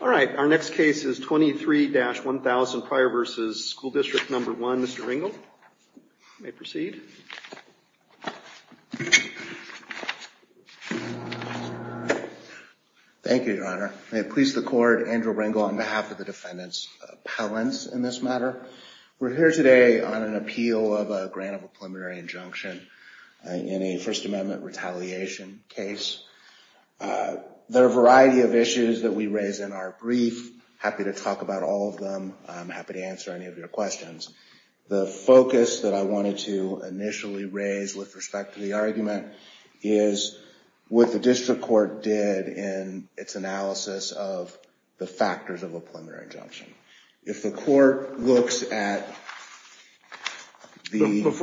All right, our next case is 23-1000 Pryor v. School District No. 1. Mr. Ringel, you may proceed. Thank you, Your Honor. May it please the Court, Andrew Ringel on behalf of the defendants' appellants in this matter. We're here today on an appeal of a grant of a preliminary injunction in a First Amendment retaliation case. There are a variety of issues that we raise in our brief. I'm happy to talk about all of them. I'm happy to answer any of your questions. The focus that I wanted to initially raise with respect to the argument is what the district court did in its analysis of the factors of a preliminary injunction. Before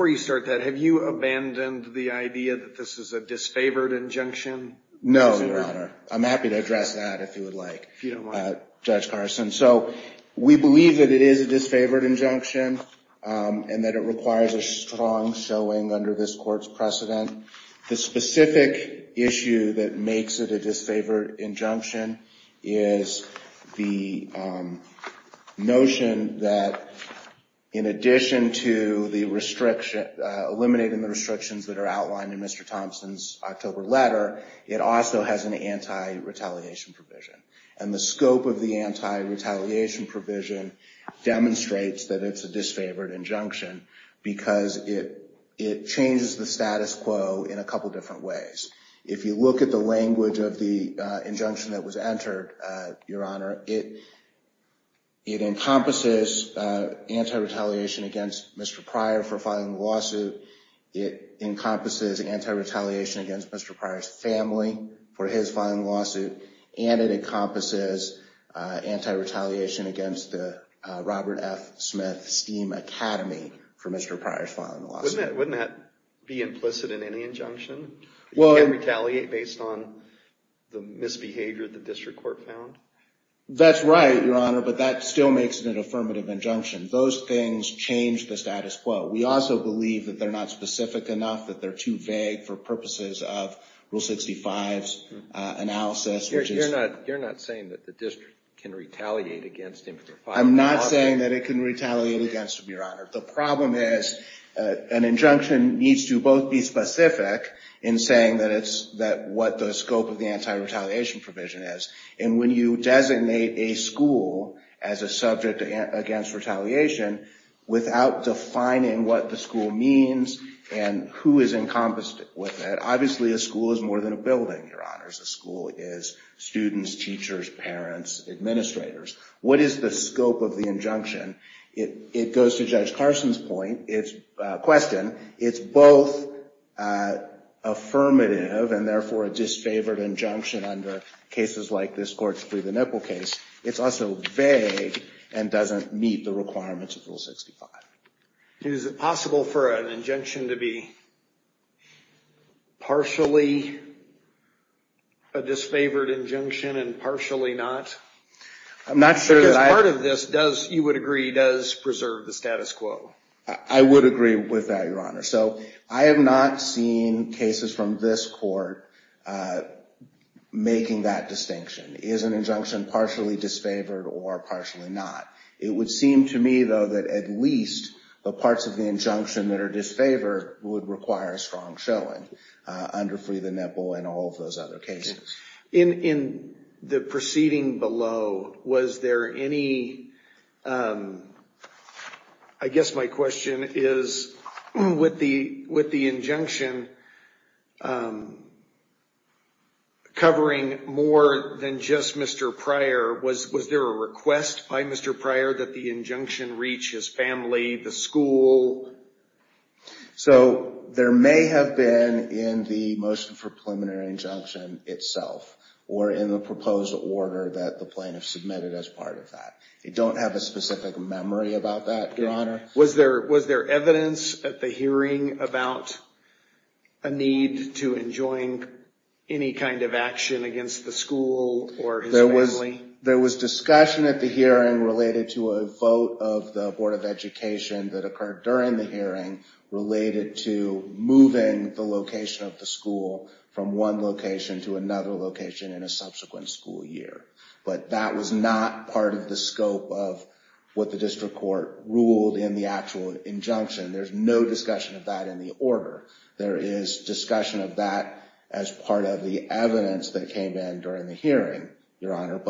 you start that, have you abandoned the idea that this is a disfavored injunction? No, Your Honor. I'm happy to address that if you would like, Judge Carson. We believe that it is a disfavored injunction and that it requires a strong showing under this court's precedent. The specific issue that makes it a disfavored injunction is the notion that in addition to eliminating the restrictions that are outlined in Mr. Thompson's October letter, it also has an anti-retaliation provision. The scope of the anti-retaliation provision demonstrates that it's a disfavored injunction because it changes the status quo in a couple different ways. If you look at the language of the injunction that was entered, Your Honor, it encompasses anti-retaliation against Mr. Pryor for filing the lawsuit. It encompasses anti-retaliation against Mr. Pryor's family for his filing the lawsuit. And it encompasses anti-retaliation against the Robert F. Smith STEAM Academy for Mr. Pryor's filing the lawsuit. Wouldn't that be implicit in any injunction? You can't retaliate based on the misbehavior the district court found? That's right, Your Honor, but that still makes it an affirmative injunction. Those things change the status quo. We also believe that they're not specific enough, that they're too vague for purposes of Rule 65's analysis. You're not saying that the district can retaliate against him for filing the lawsuit? I'm not saying that it can retaliate against him, Your Honor. The problem is an injunction needs to both be specific in saying what the scope of the anti-retaliation provision is. And when you designate a school as a subject against retaliation without defining what the school means and who is encompassed with it, obviously a school is more than a building, Your Honors. A school is students, teachers, parents, administrators. What is the scope of the injunction? It goes to Judge Carson's point, question. It's both affirmative and, therefore, a disfavored injunction under cases like this courts-free-the-nipple case. It's also vague and doesn't meet the requirements of Rule 65. Is it possible for an injunction to be partially a disfavored injunction and partially not? I'm not sure that I... Because part of this, you would agree, does preserve the status quo. I would agree with that, Your Honor. So I have not seen cases from this court making that distinction. Is an injunction partially disfavored or partially not? It would seem to me, though, that at least the parts of the injunction that are disfavored would require a strong showing under free-the-nipple and all of those other cases. In the proceeding below, was there any... I guess my question is, with the injunction covering more than just Mr. Pryor, was there a request by Mr. Pryor that the injunction reach his family, the school? So there may have been in the motion for preliminary injunction itself or in the proposed order that the plaintiff submitted as part of that. I don't have a specific memory about that, Your Honor. Was there evidence at the hearing about a need to enjoin any kind of action against the school or his family? There was discussion at the hearing related to a vote of the Board of Education that occurred during the hearing related to moving the location of the school from one location to another location in a subsequent school year. But that was not part of the scope of what the district court ruled in the actual injunction. There's no discussion of that in the order. There is discussion of that as part of the evidence that came in during the hearing, Your Honor.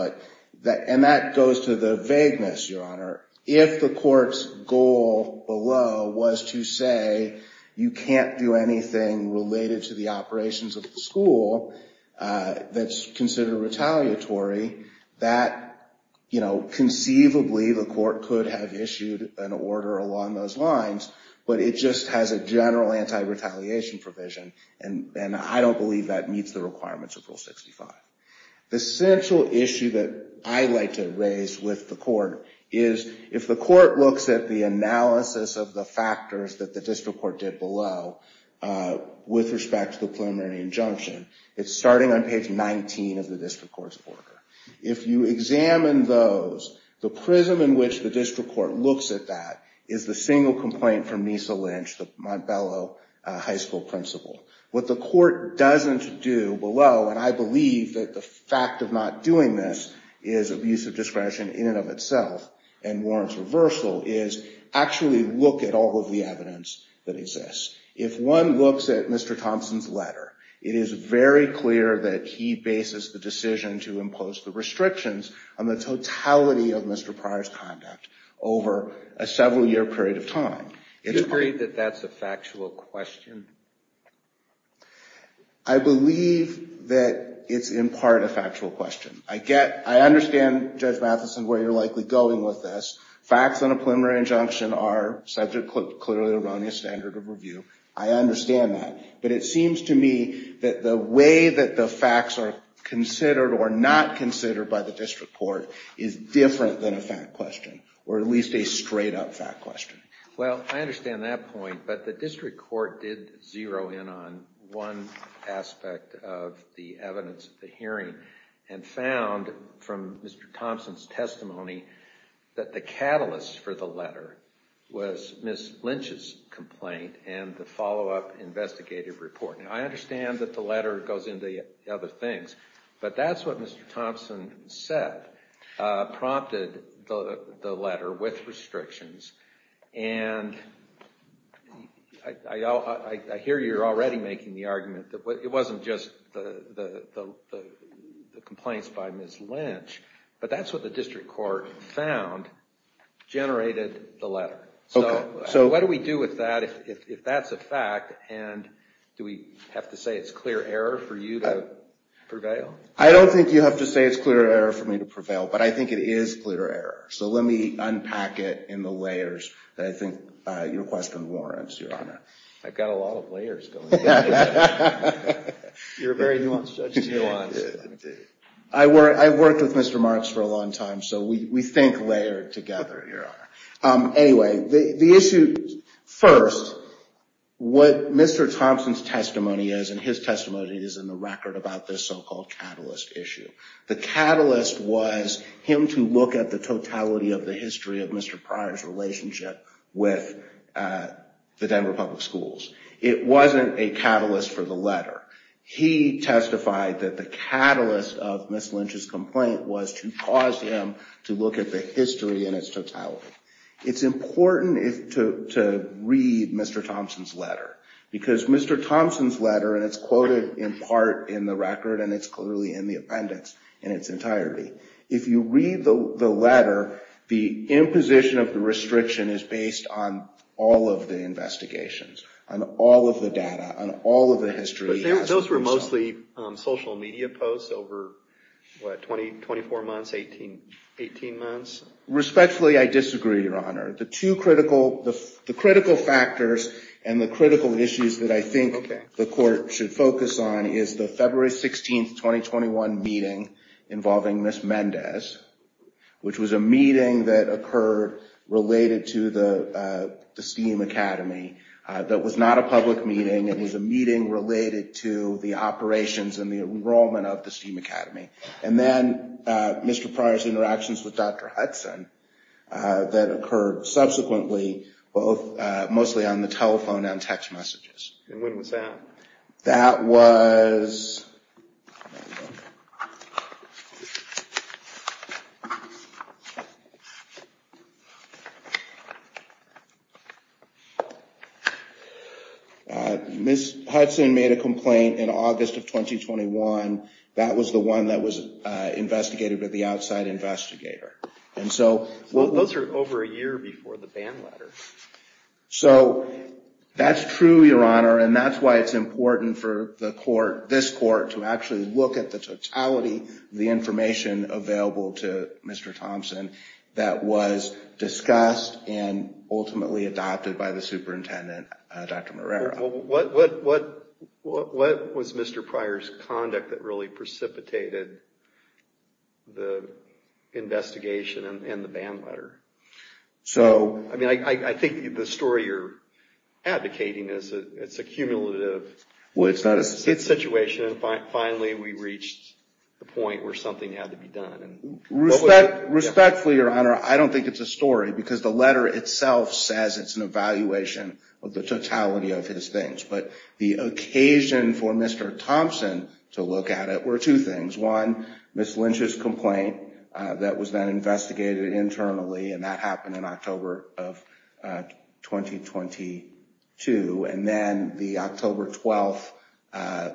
And that goes to the vagueness, Your Honor. If the court's goal below was to say you can't do anything related to the operations of the school that's considered retaliatory, that conceivably the court could have issued an order along those lines. But it just has a general anti-retaliation provision. And I don't believe that meets the requirements of Rule 65. The central issue that I like to raise with the court is if the court looks at the analysis of the factors that the district court did below with respect to the preliminary injunction, it's starting on page 19 of the district court's order. If you examine those, the prism in which the district court looks at that is the single complaint from Mesa Lynch, the Montbello High School principal. What the court doesn't do below, and I believe that the fact of not doing this is abuse of discretion in and of itself and warrants reversal, is actually look at all of the evidence that exists. If one looks at Mr. Thompson's letter, it is very clear that he bases the decision to impose the restrictions on the totality of Mr. Pryor's conduct over a several-year period of time. Do you agree that that's a factual question? I believe that it's in part a factual question. I understand, Judge Matheson, where you're likely going with this. Facts on a preliminary injunction are subject to clearly erroneous standard of review. I understand that. But it seems to me that the way that the facts are considered or not considered by the district court is different than a fact question, or at least a straight-up fact question. Well, I understand that point, but the district court did zero in on one aspect of the evidence of the hearing and found from Mr. Thompson's testimony that the catalyst for the letter was Ms. Lynch's complaint and the follow-up investigative report. I understand that the letter goes into other things, but that's what Mr. Thompson said prompted the letter with restrictions. And I hear you're already making the argument that it wasn't just the complaints by Ms. Lynch, but that's what the district court found generated the letter. So what do we do with that if that's a fact, and do we have to say it's clear error for you to prevail? I don't think you have to say it's clear error for me to prevail, but I think it is clear error. So let me unpack it in the layers that I think your question warrants, Your Honor. I've got a lot of layers going on. You're a very nuanced judge. I worked with Mr. Marks for a long time, so we think layered together, Your Honor. Anyway, the issue first, what Mr. Thompson's testimony is, and his testimony is in the record about this so-called catalyst issue. The catalyst was him to look at the totality of the history of Mr. Pryor's relationship with the Denver Public Schools. It wasn't a catalyst for the letter. He testified that the catalyst of Ms. Lynch's complaint was to cause him to look at the history in its totality. It's important to read Mr. Thompson's letter, because Mr. Thompson's letter, and it's quoted in part in the record, and it's clearly in the appendix in its entirety. If you read the letter, the imposition of the restriction is based on all of the investigations, on all of the data, on all of the history. Those were mostly social media posts over, what, 24 months, 18 months? Respectfully, I disagree, Your Honor. The two critical factors and the critical issues that I think the court should focus on is the February 16, 2021 meeting involving Ms. Mendez, which was a meeting that occurred related to the STEAM Academy. That was not a public meeting. It was a meeting related to the operations and the enrollment of the STEAM Academy. And then Mr. Pryor's interactions with Dr. Hudson that occurred subsequently, mostly on the telephone and text messages. And when was that? That was... Ms. Hudson made a complaint in August of 2021. That was the one that was investigated by the outside investigator. And so... Those are over a year before the ban letter. So that's true, Your Honor, and that's why it's important for the court, this court, to actually look at the totality, the information available to Mr. Thompson that was discussed and ultimately adopted by the superintendent, Dr. Morera. What was Mr. Pryor's conduct that really precipitated the investigation and the ban letter? I mean, I think the story you're advocating is it's a cumulative situation. And finally, we reached the point where something had to be done. Respectfully, Your Honor, I don't think it's a story because the letter itself says it's an evaluation of the totality of his things. But the occasion for Mr. Thompson to look at it were two things. One, Ms. Lynch's complaint that was then investigated internally, and that happened in October of 2022. And then the October 12th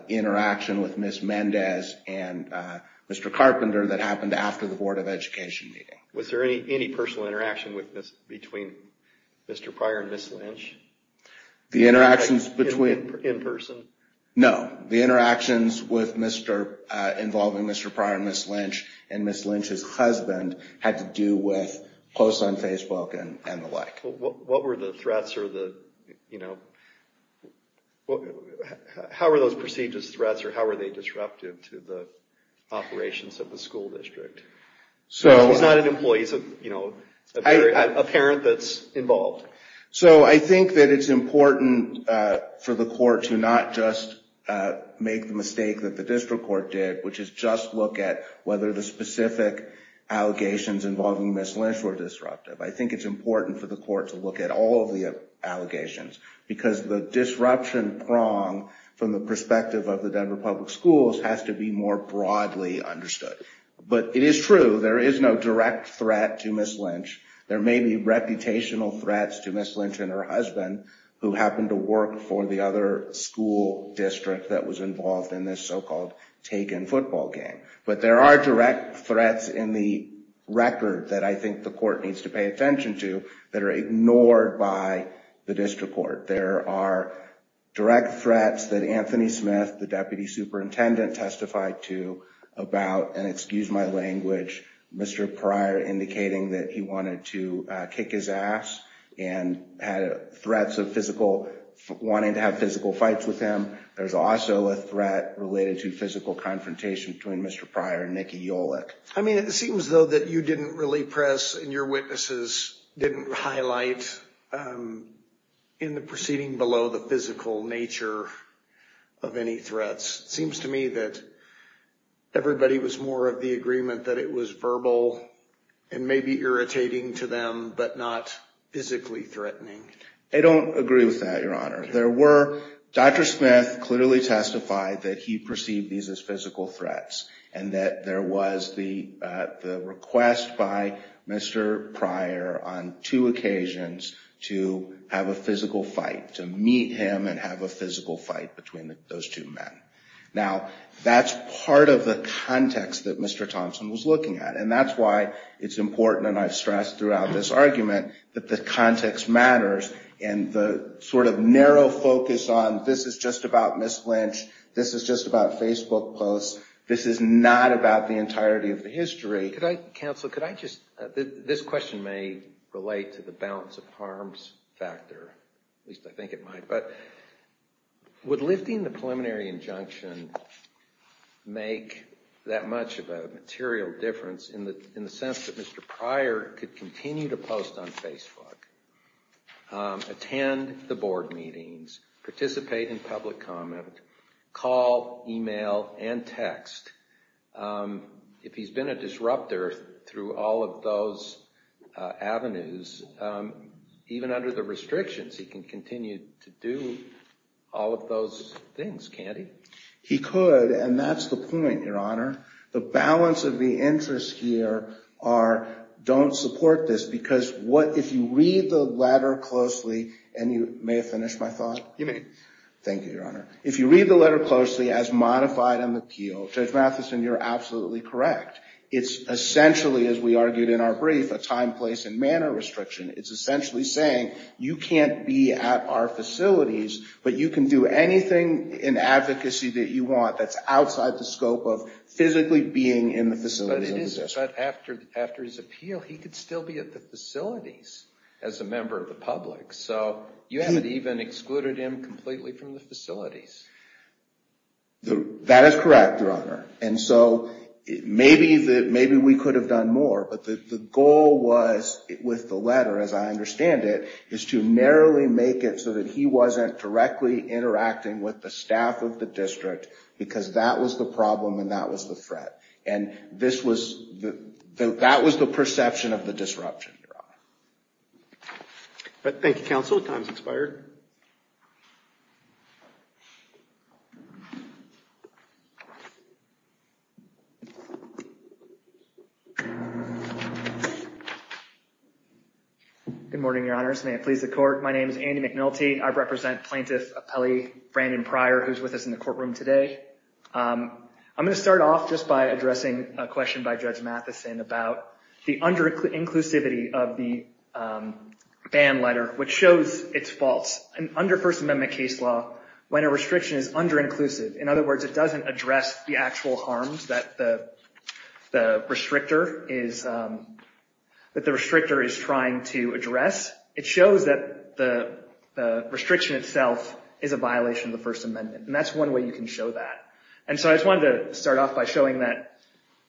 interaction with Ms. Mendez and Mr. Carpenter that happened after the Board of Education meeting. Was there any personal interaction between Mr. Pryor and Ms. Lynch? The interactions between... In person? No. The interactions involving Mr. Pryor and Ms. Lynch and Ms. Lynch's husband had to do with posts on Facebook and the like. What were the threats? How were those perceived as threats, or how were they disruptive to the operations of the school district? He's not an employee, he's a parent that's involved. So I think that it's important for the court to not just make the mistake that the district court did, which is just look at whether the specific allegations involving Ms. Lynch were disruptive. I think it's important for the court to look at all of the allegations, because the disruption prong from the perspective of the Denver Public Schools has to be more broadly understood. But it is true, there is no direct threat to Ms. Lynch. There may be reputational threats to Ms. Lynch and her husband, who happened to work for the other school district that was involved in this so-called Tegan football game. But there are direct threats in the record that I think the court needs to pay attention to, that are ignored by the district court. There are direct threats that Anthony Smith, the deputy superintendent, testified to about, and excuse my language, Mr. Pryor indicating that he wanted to kick his ass, and had threats of wanting to have physical fights with him. There's also a threat related to physical confrontation between Mr. Pryor and Nikki Yolick. I mean, it seems though that you didn't really press, and your witnesses didn't highlight, in the proceeding below, the physical nature of any threats. It seems to me that everybody was more of the agreement that it was verbal, and maybe irritating to them, but not physically threatening. I don't agree with that, Your Honor. Dr. Smith clearly testified that he perceived these as physical threats, and that there was the request by Mr. Pryor on two occasions to have a physical fight, to meet him and have a physical fight between those two men. Now, that's part of the context that Mr. Thompson was looking at, and that's why it's important, and I've stressed throughout this argument, that the context matters, and the sort of narrow focus on this is just about Ms. Lynch, this is just about Facebook posts, this is not about the entirety of the history. Counsel, this question may relate to the balance of harms factor, at least I think it might, but would lifting the preliminary injunction make that much of a material difference in the sense that Mr. Pryor could continue to post on Facebook, attend the board meetings, participate in public comment, call, email, and text. If he's been a disrupter through all of those avenues, even under the restrictions, he can continue to do all of those things, can't he? He could, and that's the point, Your Honor. The balance of the interests here are don't support this, because if you read the letter closely, and you may have finished my thought. You may. Thank you, Your Honor. If you read the letter closely, as modified in the appeal, Judge Mathison, you're absolutely correct. It's essentially, as we argued in our brief, a time, place, and manner restriction. It's essentially saying you can't be at our facilities, but you can do anything in advocacy that you want that's outside the scope of physically being in the facilities of the district. But after his appeal, he could still be at the facilities as a member of the public, so you haven't even excluded him completely from the facilities. That is correct, Your Honor. And so maybe we could have done more, but the goal was, with the letter as I understand it, is to narrowly make it so that he wasn't directly interacting with the staff of the district, because that was the problem and that was the threat. And that was the perception of the disruption, Your Honor. Thank you, counsel. Time's expired. Good morning, Your Honors. May it please the Court. My name is Andy McNulty. I represent Plaintiff Appellee Brandon Pryor, who's with us in the courtroom today. I'm going to start off just by addressing a question by Judge Mathison about the under-inclusivity of the ban letter, which shows its faults. Under First Amendment case law, when a restriction is under-inclusive, in other words, it doesn't address the actual harms that the restrictor is trying to address. It shows that the restriction itself is a violation of the First Amendment, and that's one way you can show that. And so I just wanted to start off by showing that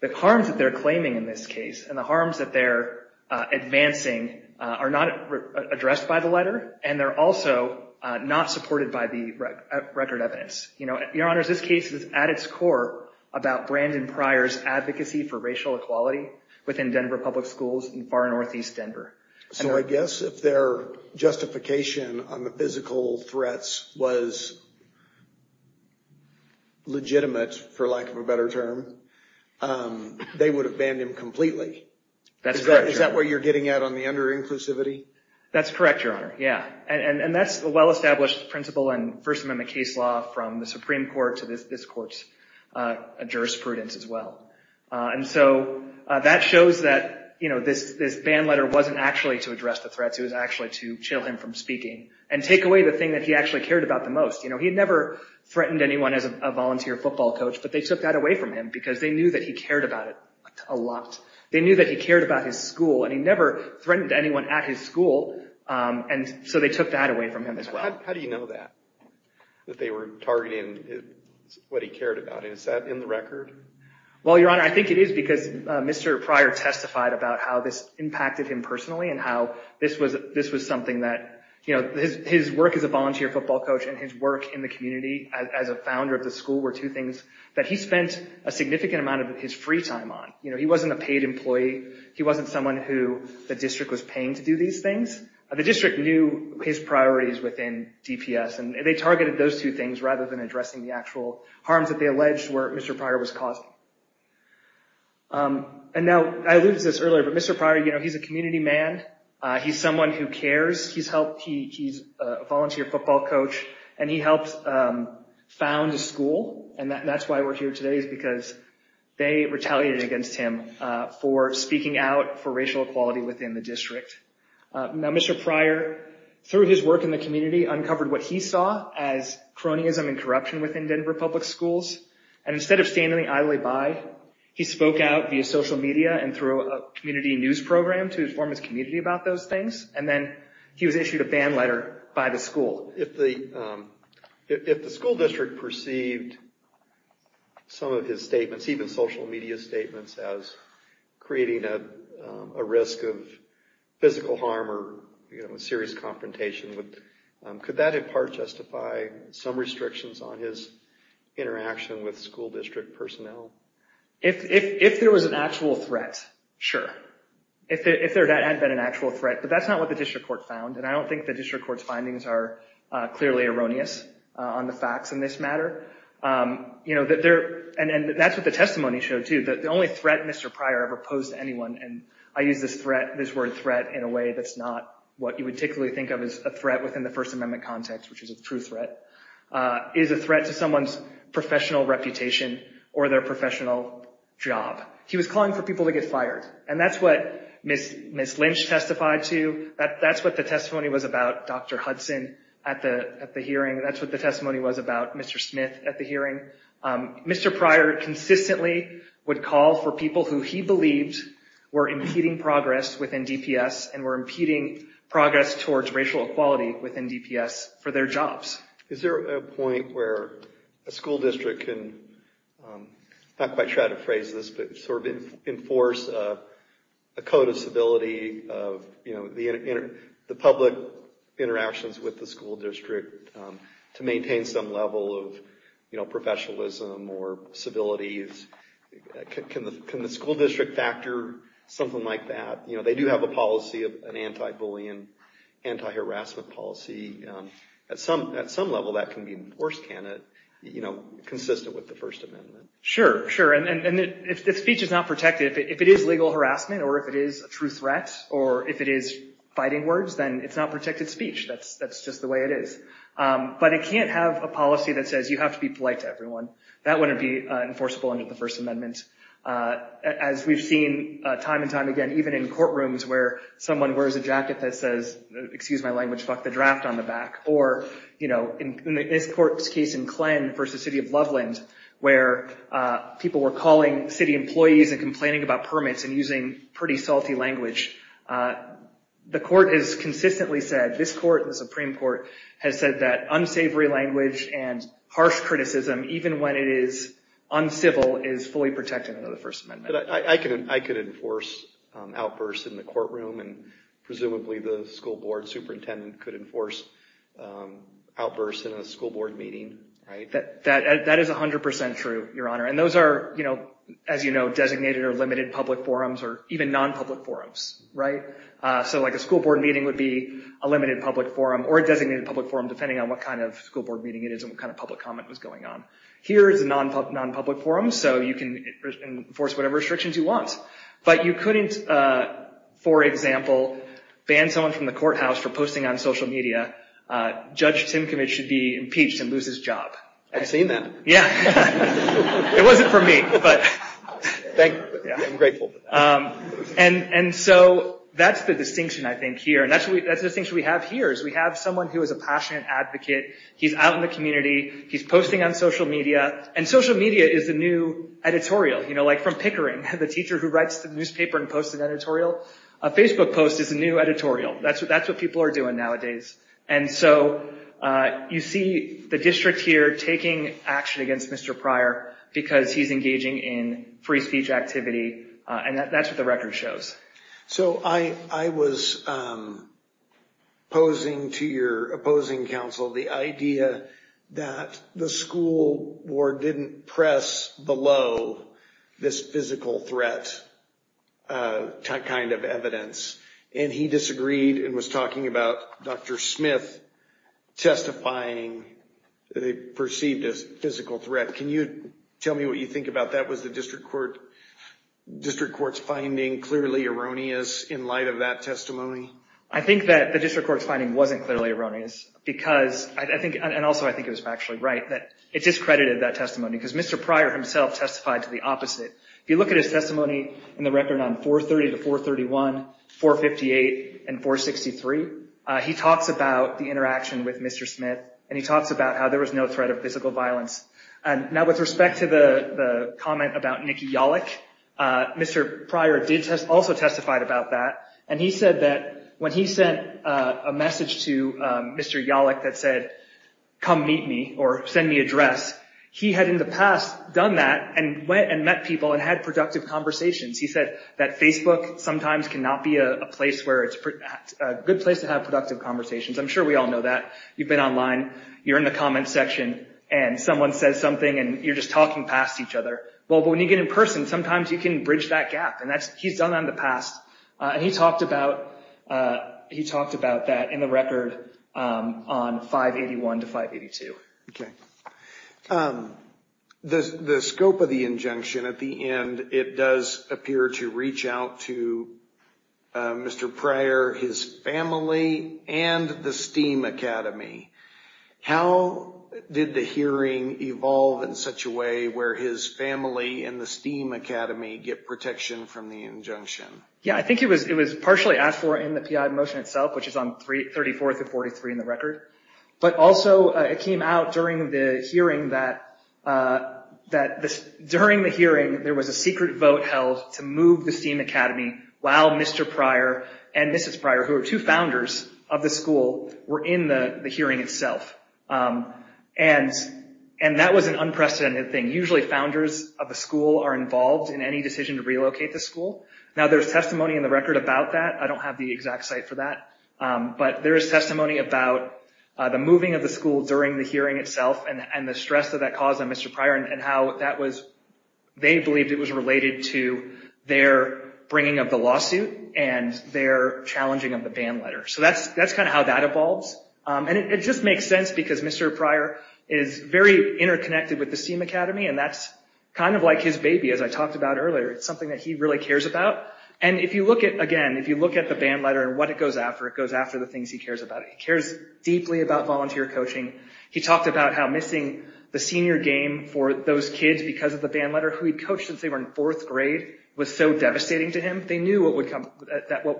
the harms that they're claiming in this case and the harms that they're advancing are not addressed by the letter, and they're also not supported by the record evidence. Your Honors, this case is at its core about Brandon Pryor's advocacy for racial equality within Denver Public Schools in far northeast Denver. So I guess if their justification on the physical threats was legitimate, for lack of a better term, they would have banned him completely. Is that where you're getting at on the under-inclusivity? That's correct, Your Honor. Yeah, and that's a well-established principle in First Amendment case law from the Supreme Court to this Court's jurisprudence as well. And so that shows that this ban letter wasn't actually to address the threats. It was actually to chill him from speaking and take away the thing that he actually cared about the most. He had never threatened anyone as a volunteer football coach, but they took that away from him because they knew that he cared about it a lot. They knew that he cared about his school, and he never threatened anyone at his school, and so they took that away from him as well. How do you know that, that they were targeting what he cared about? Is that in the record? Well, Your Honor, I think it is because Mr. Pryor testified about how this impacted him personally and how this was something that his work as a volunteer football coach and his work in the community as a founder of the school were two things that he spent a significant amount of his free time on. He wasn't a paid employee. He wasn't someone who the district was paying to do these things. The district knew his priorities within DPS, and they targeted those two things rather than addressing the actual harms that they alleged Mr. Pryor was causing. And now, I alluded to this earlier, but Mr. Pryor, you know, he's a community man. He's someone who cares. He's a volunteer football coach, and he helped found a school, and that's why we're here today is because they retaliated against him for speaking out for racial equality within the district. Now, Mr. Pryor, through his work in the community, uncovered what he saw as cronyism and corruption within Denver Public Schools, and instead of standing idly by, he spoke out via social media and through a community news program to inform his community about those things, and then he was issued a ban letter by the school. If the school district perceived some of his statements, even social media statements, as creating a risk of physical harm or, you know, a serious confrontation, could that, in part, justify some restrictions on his interaction with school district personnel? If there was an actual threat, sure. If there had been an actual threat, but that's not what the district court found, and I don't think the district court's findings are clearly erroneous on the facts in this matter. You know, and that's what the testimony showed, too. The only threat Mr. Pryor ever posed to anyone, and I use this word threat in a way that's not what you would typically think of as a threat within the First Amendment context, which is a true threat, is a threat to someone's professional reputation or their professional job. He was calling for people to get fired, and that's what Ms. Lynch testified to. That's what the testimony was about, Dr. Hudson, at the hearing. That's what the testimony was about, Mr. Smith, at the hearing. Mr. Pryor consistently would call for people who he believed were impeding progress within DPS and were impeding progress towards racial equality within DPS for their jobs. Is there a point where a school district can, I'm not quite sure how to phrase this, but sort of enforce a code of civility of the public interactions with the school district to maintain some level of professionalism or civility? Can the school district factor something like that? They do have a policy, an anti-bullying, anti-harassment policy. At some level, that can be enforced, can it? Consistent with the First Amendment. Sure, sure. And if speech is not protected, if it is legal harassment or if it is a true threat or if it is fighting words, then it's not protected speech. That's just the way it is. But it can't have a policy that says you have to be polite to everyone. That wouldn't be enforceable under the First Amendment. As we've seen time and time again, even in courtrooms where someone wears a jacket that says, excuse my language, fuck the draft on the back. Or, you know, in this court's case in Klen versus the city of Loveland, where people were calling city employees and complaining about permits and using pretty salty language, the court has consistently said, this court, the Supreme Court, has said that unsavory language and harsh criticism, even when it is uncivil, is fully protected under the First Amendment. But I could enforce outbursts in the courtroom, and presumably the school board superintendent could enforce outbursts in a school board meeting, right? That is 100% true, Your Honor. And those are, as you know, designated or limited public forums or even non-public forums, right? So like a school board meeting would be a limited public forum or a designated public forum, depending on what kind of school board meeting it is and what kind of public comment was going on. Here is a non-public forum, so you can enforce whatever restrictions you want. But you couldn't, for example, ban someone from the courthouse for posting on social media, Judge Tinkovich should be impeached and lose his job. I've seen that. Yeah. It wasn't for me, but. I'm grateful for that. And so that's the distinction, I think, here. And that's the distinction we have here, is we have someone who is a passionate advocate. He's out in the community. He's posting on social media. And social media is the new editorial, you know, like from Pickering, the teacher who writes the newspaper and posts an editorial. A Facebook post is a new editorial. That's what people are doing nowadays. And so you see the district here taking action against Mr. Pryor because he's engaging in free speech activity, and that's what the record shows. Yes. So I was posing to your opposing counsel the idea that the school board didn't press below this physical threat kind of evidence. And he disagreed and was talking about Dr. Smith testifying that he perceived a physical threat. Can you tell me what you think about that? Was the district court's finding clearly erroneous in light of that testimony? I think that the district court's finding wasn't clearly erroneous because I think, and also I think it was factually right, that it discredited that testimony because Mr. Pryor himself testified to the opposite. If you look at his testimony in the record on 430 to 431, 458, and 463, he talks about the interaction with Mr. Smith, and he talks about how there was no threat of physical violence. Now with respect to the comment about Nikki Yalek, Mr. Pryor also testified about that, and he said that when he sent a message to Mr. Yalek that said, come meet me or send me a dress, he had in the past done that and went and met people and had productive conversations. He said that Facebook sometimes cannot be a good place to have productive conversations. I'm sure we all know that. You've been online, you're in the comments section, and someone says something and you're just talking past each other. But when you get in person, sometimes you can bridge that gap, and he's done that in the past, and he talked about that in the record on 581 to 582. Okay. The scope of the injunction at the end, it does appear to reach out to Mr. Pryor, his family, and the STEAM Academy. How did the hearing evolve in such a way where his family and the STEAM Academy get protection from the injunction? Yeah, I think it was partially asked for in the PI motion itself, which is on 34 through 43 in the record, but also it came out during the hearing that there was a secret vote held to move the STEAM Academy while Mr. Pryor and Mrs. Pryor, who are two founders of the school, were in the hearing itself. And that was an unprecedented thing. Usually founders of the school are involved in any decision to relocate the school. Now, there's testimony in the record about that. I don't have the exact site for that. But there is testimony about the moving of the school during the hearing itself and the stress that that caused on Mr. Pryor and how they believed it was related to their bringing of the lawsuit and their challenging of the ban letter. So that's kind of how that evolves. And it just makes sense because Mr. Pryor is very interconnected with the STEAM Academy, and that's kind of like his baby, as I talked about earlier. It's something that he really cares about. And if you look at, again, if you look at the ban letter and what it goes after, it goes after the things he cares about. He cares deeply about volunteer coaching. He talked about how missing the senior game for those kids because of the ban letter, who he'd coached since they were in fourth grade, was so devastating to him. They knew what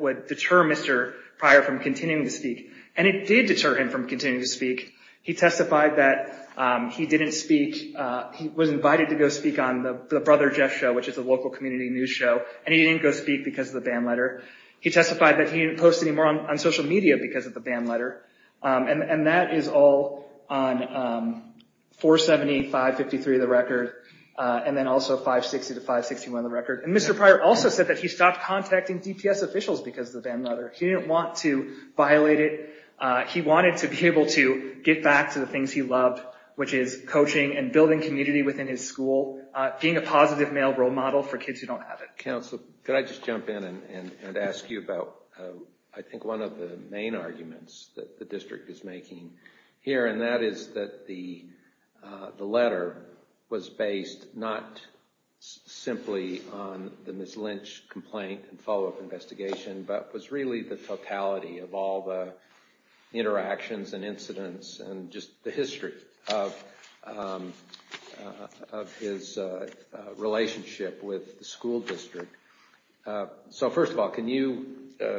would deter Mr. Pryor from continuing to speak. And it did deter him from continuing to speak. He testified that he didn't speak. He was invited to go speak on the Brother Jeff Show, which is a local community news show, and he didn't go speak because of the ban letter. He testified that he didn't post anymore on social media because of the ban letter. And that is all on 470, 553 of the record, and then also 560 to 561 of the record. And Mr. Pryor also said that he stopped contacting DPS officials because of the ban letter. He didn't want to violate it. He wanted to be able to get back to the things he loved, which is coaching and building community within his school, being a positive male role model for kids who don't have it. Counsel, could I just jump in and ask you about, I think, one of the main arguments that the district is making here, and that is that the letter was based not simply on the Ms. Lynch complaint and follow-up investigation, but was really the totality of all the interactions and incidents and just the history of his relationship with the school district. So first of all, can you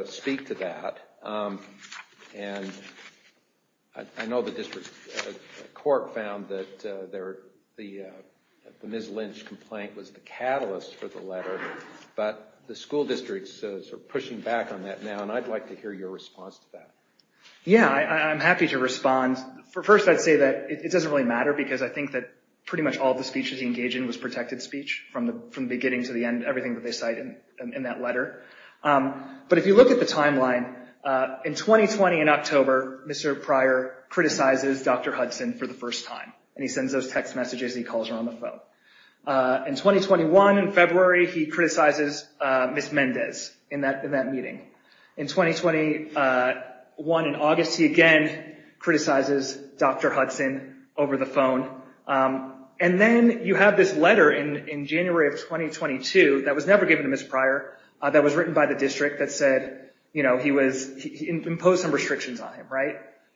speak to that? And I know the district court found that the Ms. Lynch complaint was the catalyst for the letter, but the school districts are pushing back on that now, and I'd like to hear your response to that. Yeah, I'm happy to respond. First, I'd say that it doesn't really matter because I think that pretty much all the speeches he engaged in was protected speech from the beginning to the end, everything that they cite in that letter. But if you look at the timeline, in 2020, in October, Mr. Pryor criticizes Dr. Hudson for the first time, and he sends those text messages and he calls her on the phone. In 2021, in February, he criticizes Ms. Mendez in that meeting. In 2021, in August, he again criticizes Dr. Hudson over the phone. And then you have this letter in January of 2022 that was never given to Ms. Pryor, that was written by the district that said he imposed some restrictions on him.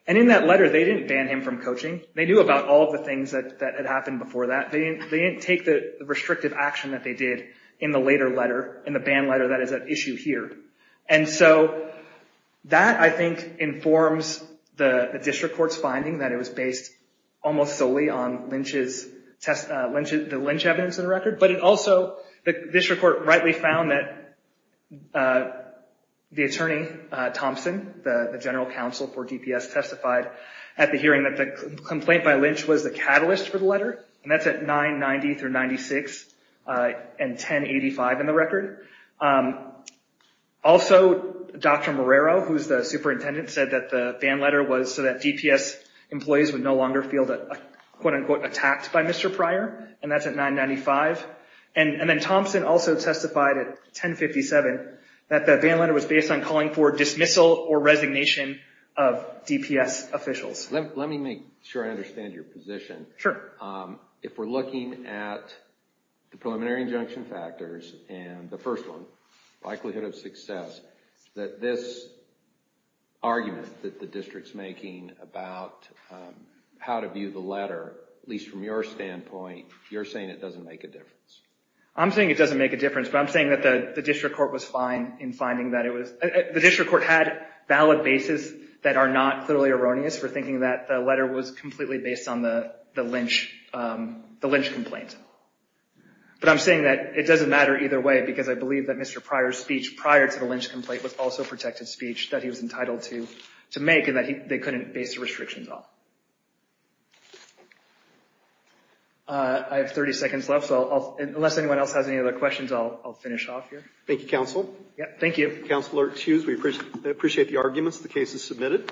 And in that letter, they didn't ban him from coaching. They knew about all the things that had happened before that. They didn't take the restrictive action that they did in the later letter, in the ban letter that is at issue here. And so that, I think, informs the district court's finding that it was based almost solely on the Lynch evidence in the record. But it also, the district court rightly found that the attorney, Thompson, the general counsel for DPS, testified at the hearing that the complaint by Lynch was the catalyst for the letter. And that's at 990 through 96 and 1085 in the record. Also, Dr. Morero, who's the superintendent, said that the ban letter was so that DPS employees would no longer feel that, quote unquote, attacked by Mr. Pryor, and that's at 995. And then Thompson also testified at 1057 that the ban letter was based on calling for dismissal or resignation of DPS officials. Let me make sure I understand your position. Sure. If we're looking at the preliminary injunction factors and the first one, likelihood of success, that this argument that the district's making about how to view the letter, at least from your standpoint, you're saying it doesn't make a difference. I'm saying it doesn't make a difference, but I'm saying that the district court was fine in finding that it was, the district court had valid basis that are not clearly erroneous for thinking that the letter was completely based on the Lynch complaint. But I'm saying that it doesn't matter either way because I believe that Mr. Pryor's speech prior to the Lynch complaint was also protected speech that he was entitled to make and that they couldn't base the restrictions off. I have 30 seconds left, so unless anyone else has any other questions, I'll finish off here. Thank you, counsel. Thank you. Counsel, excuse me. I appreciate the arguments. The case is submitted.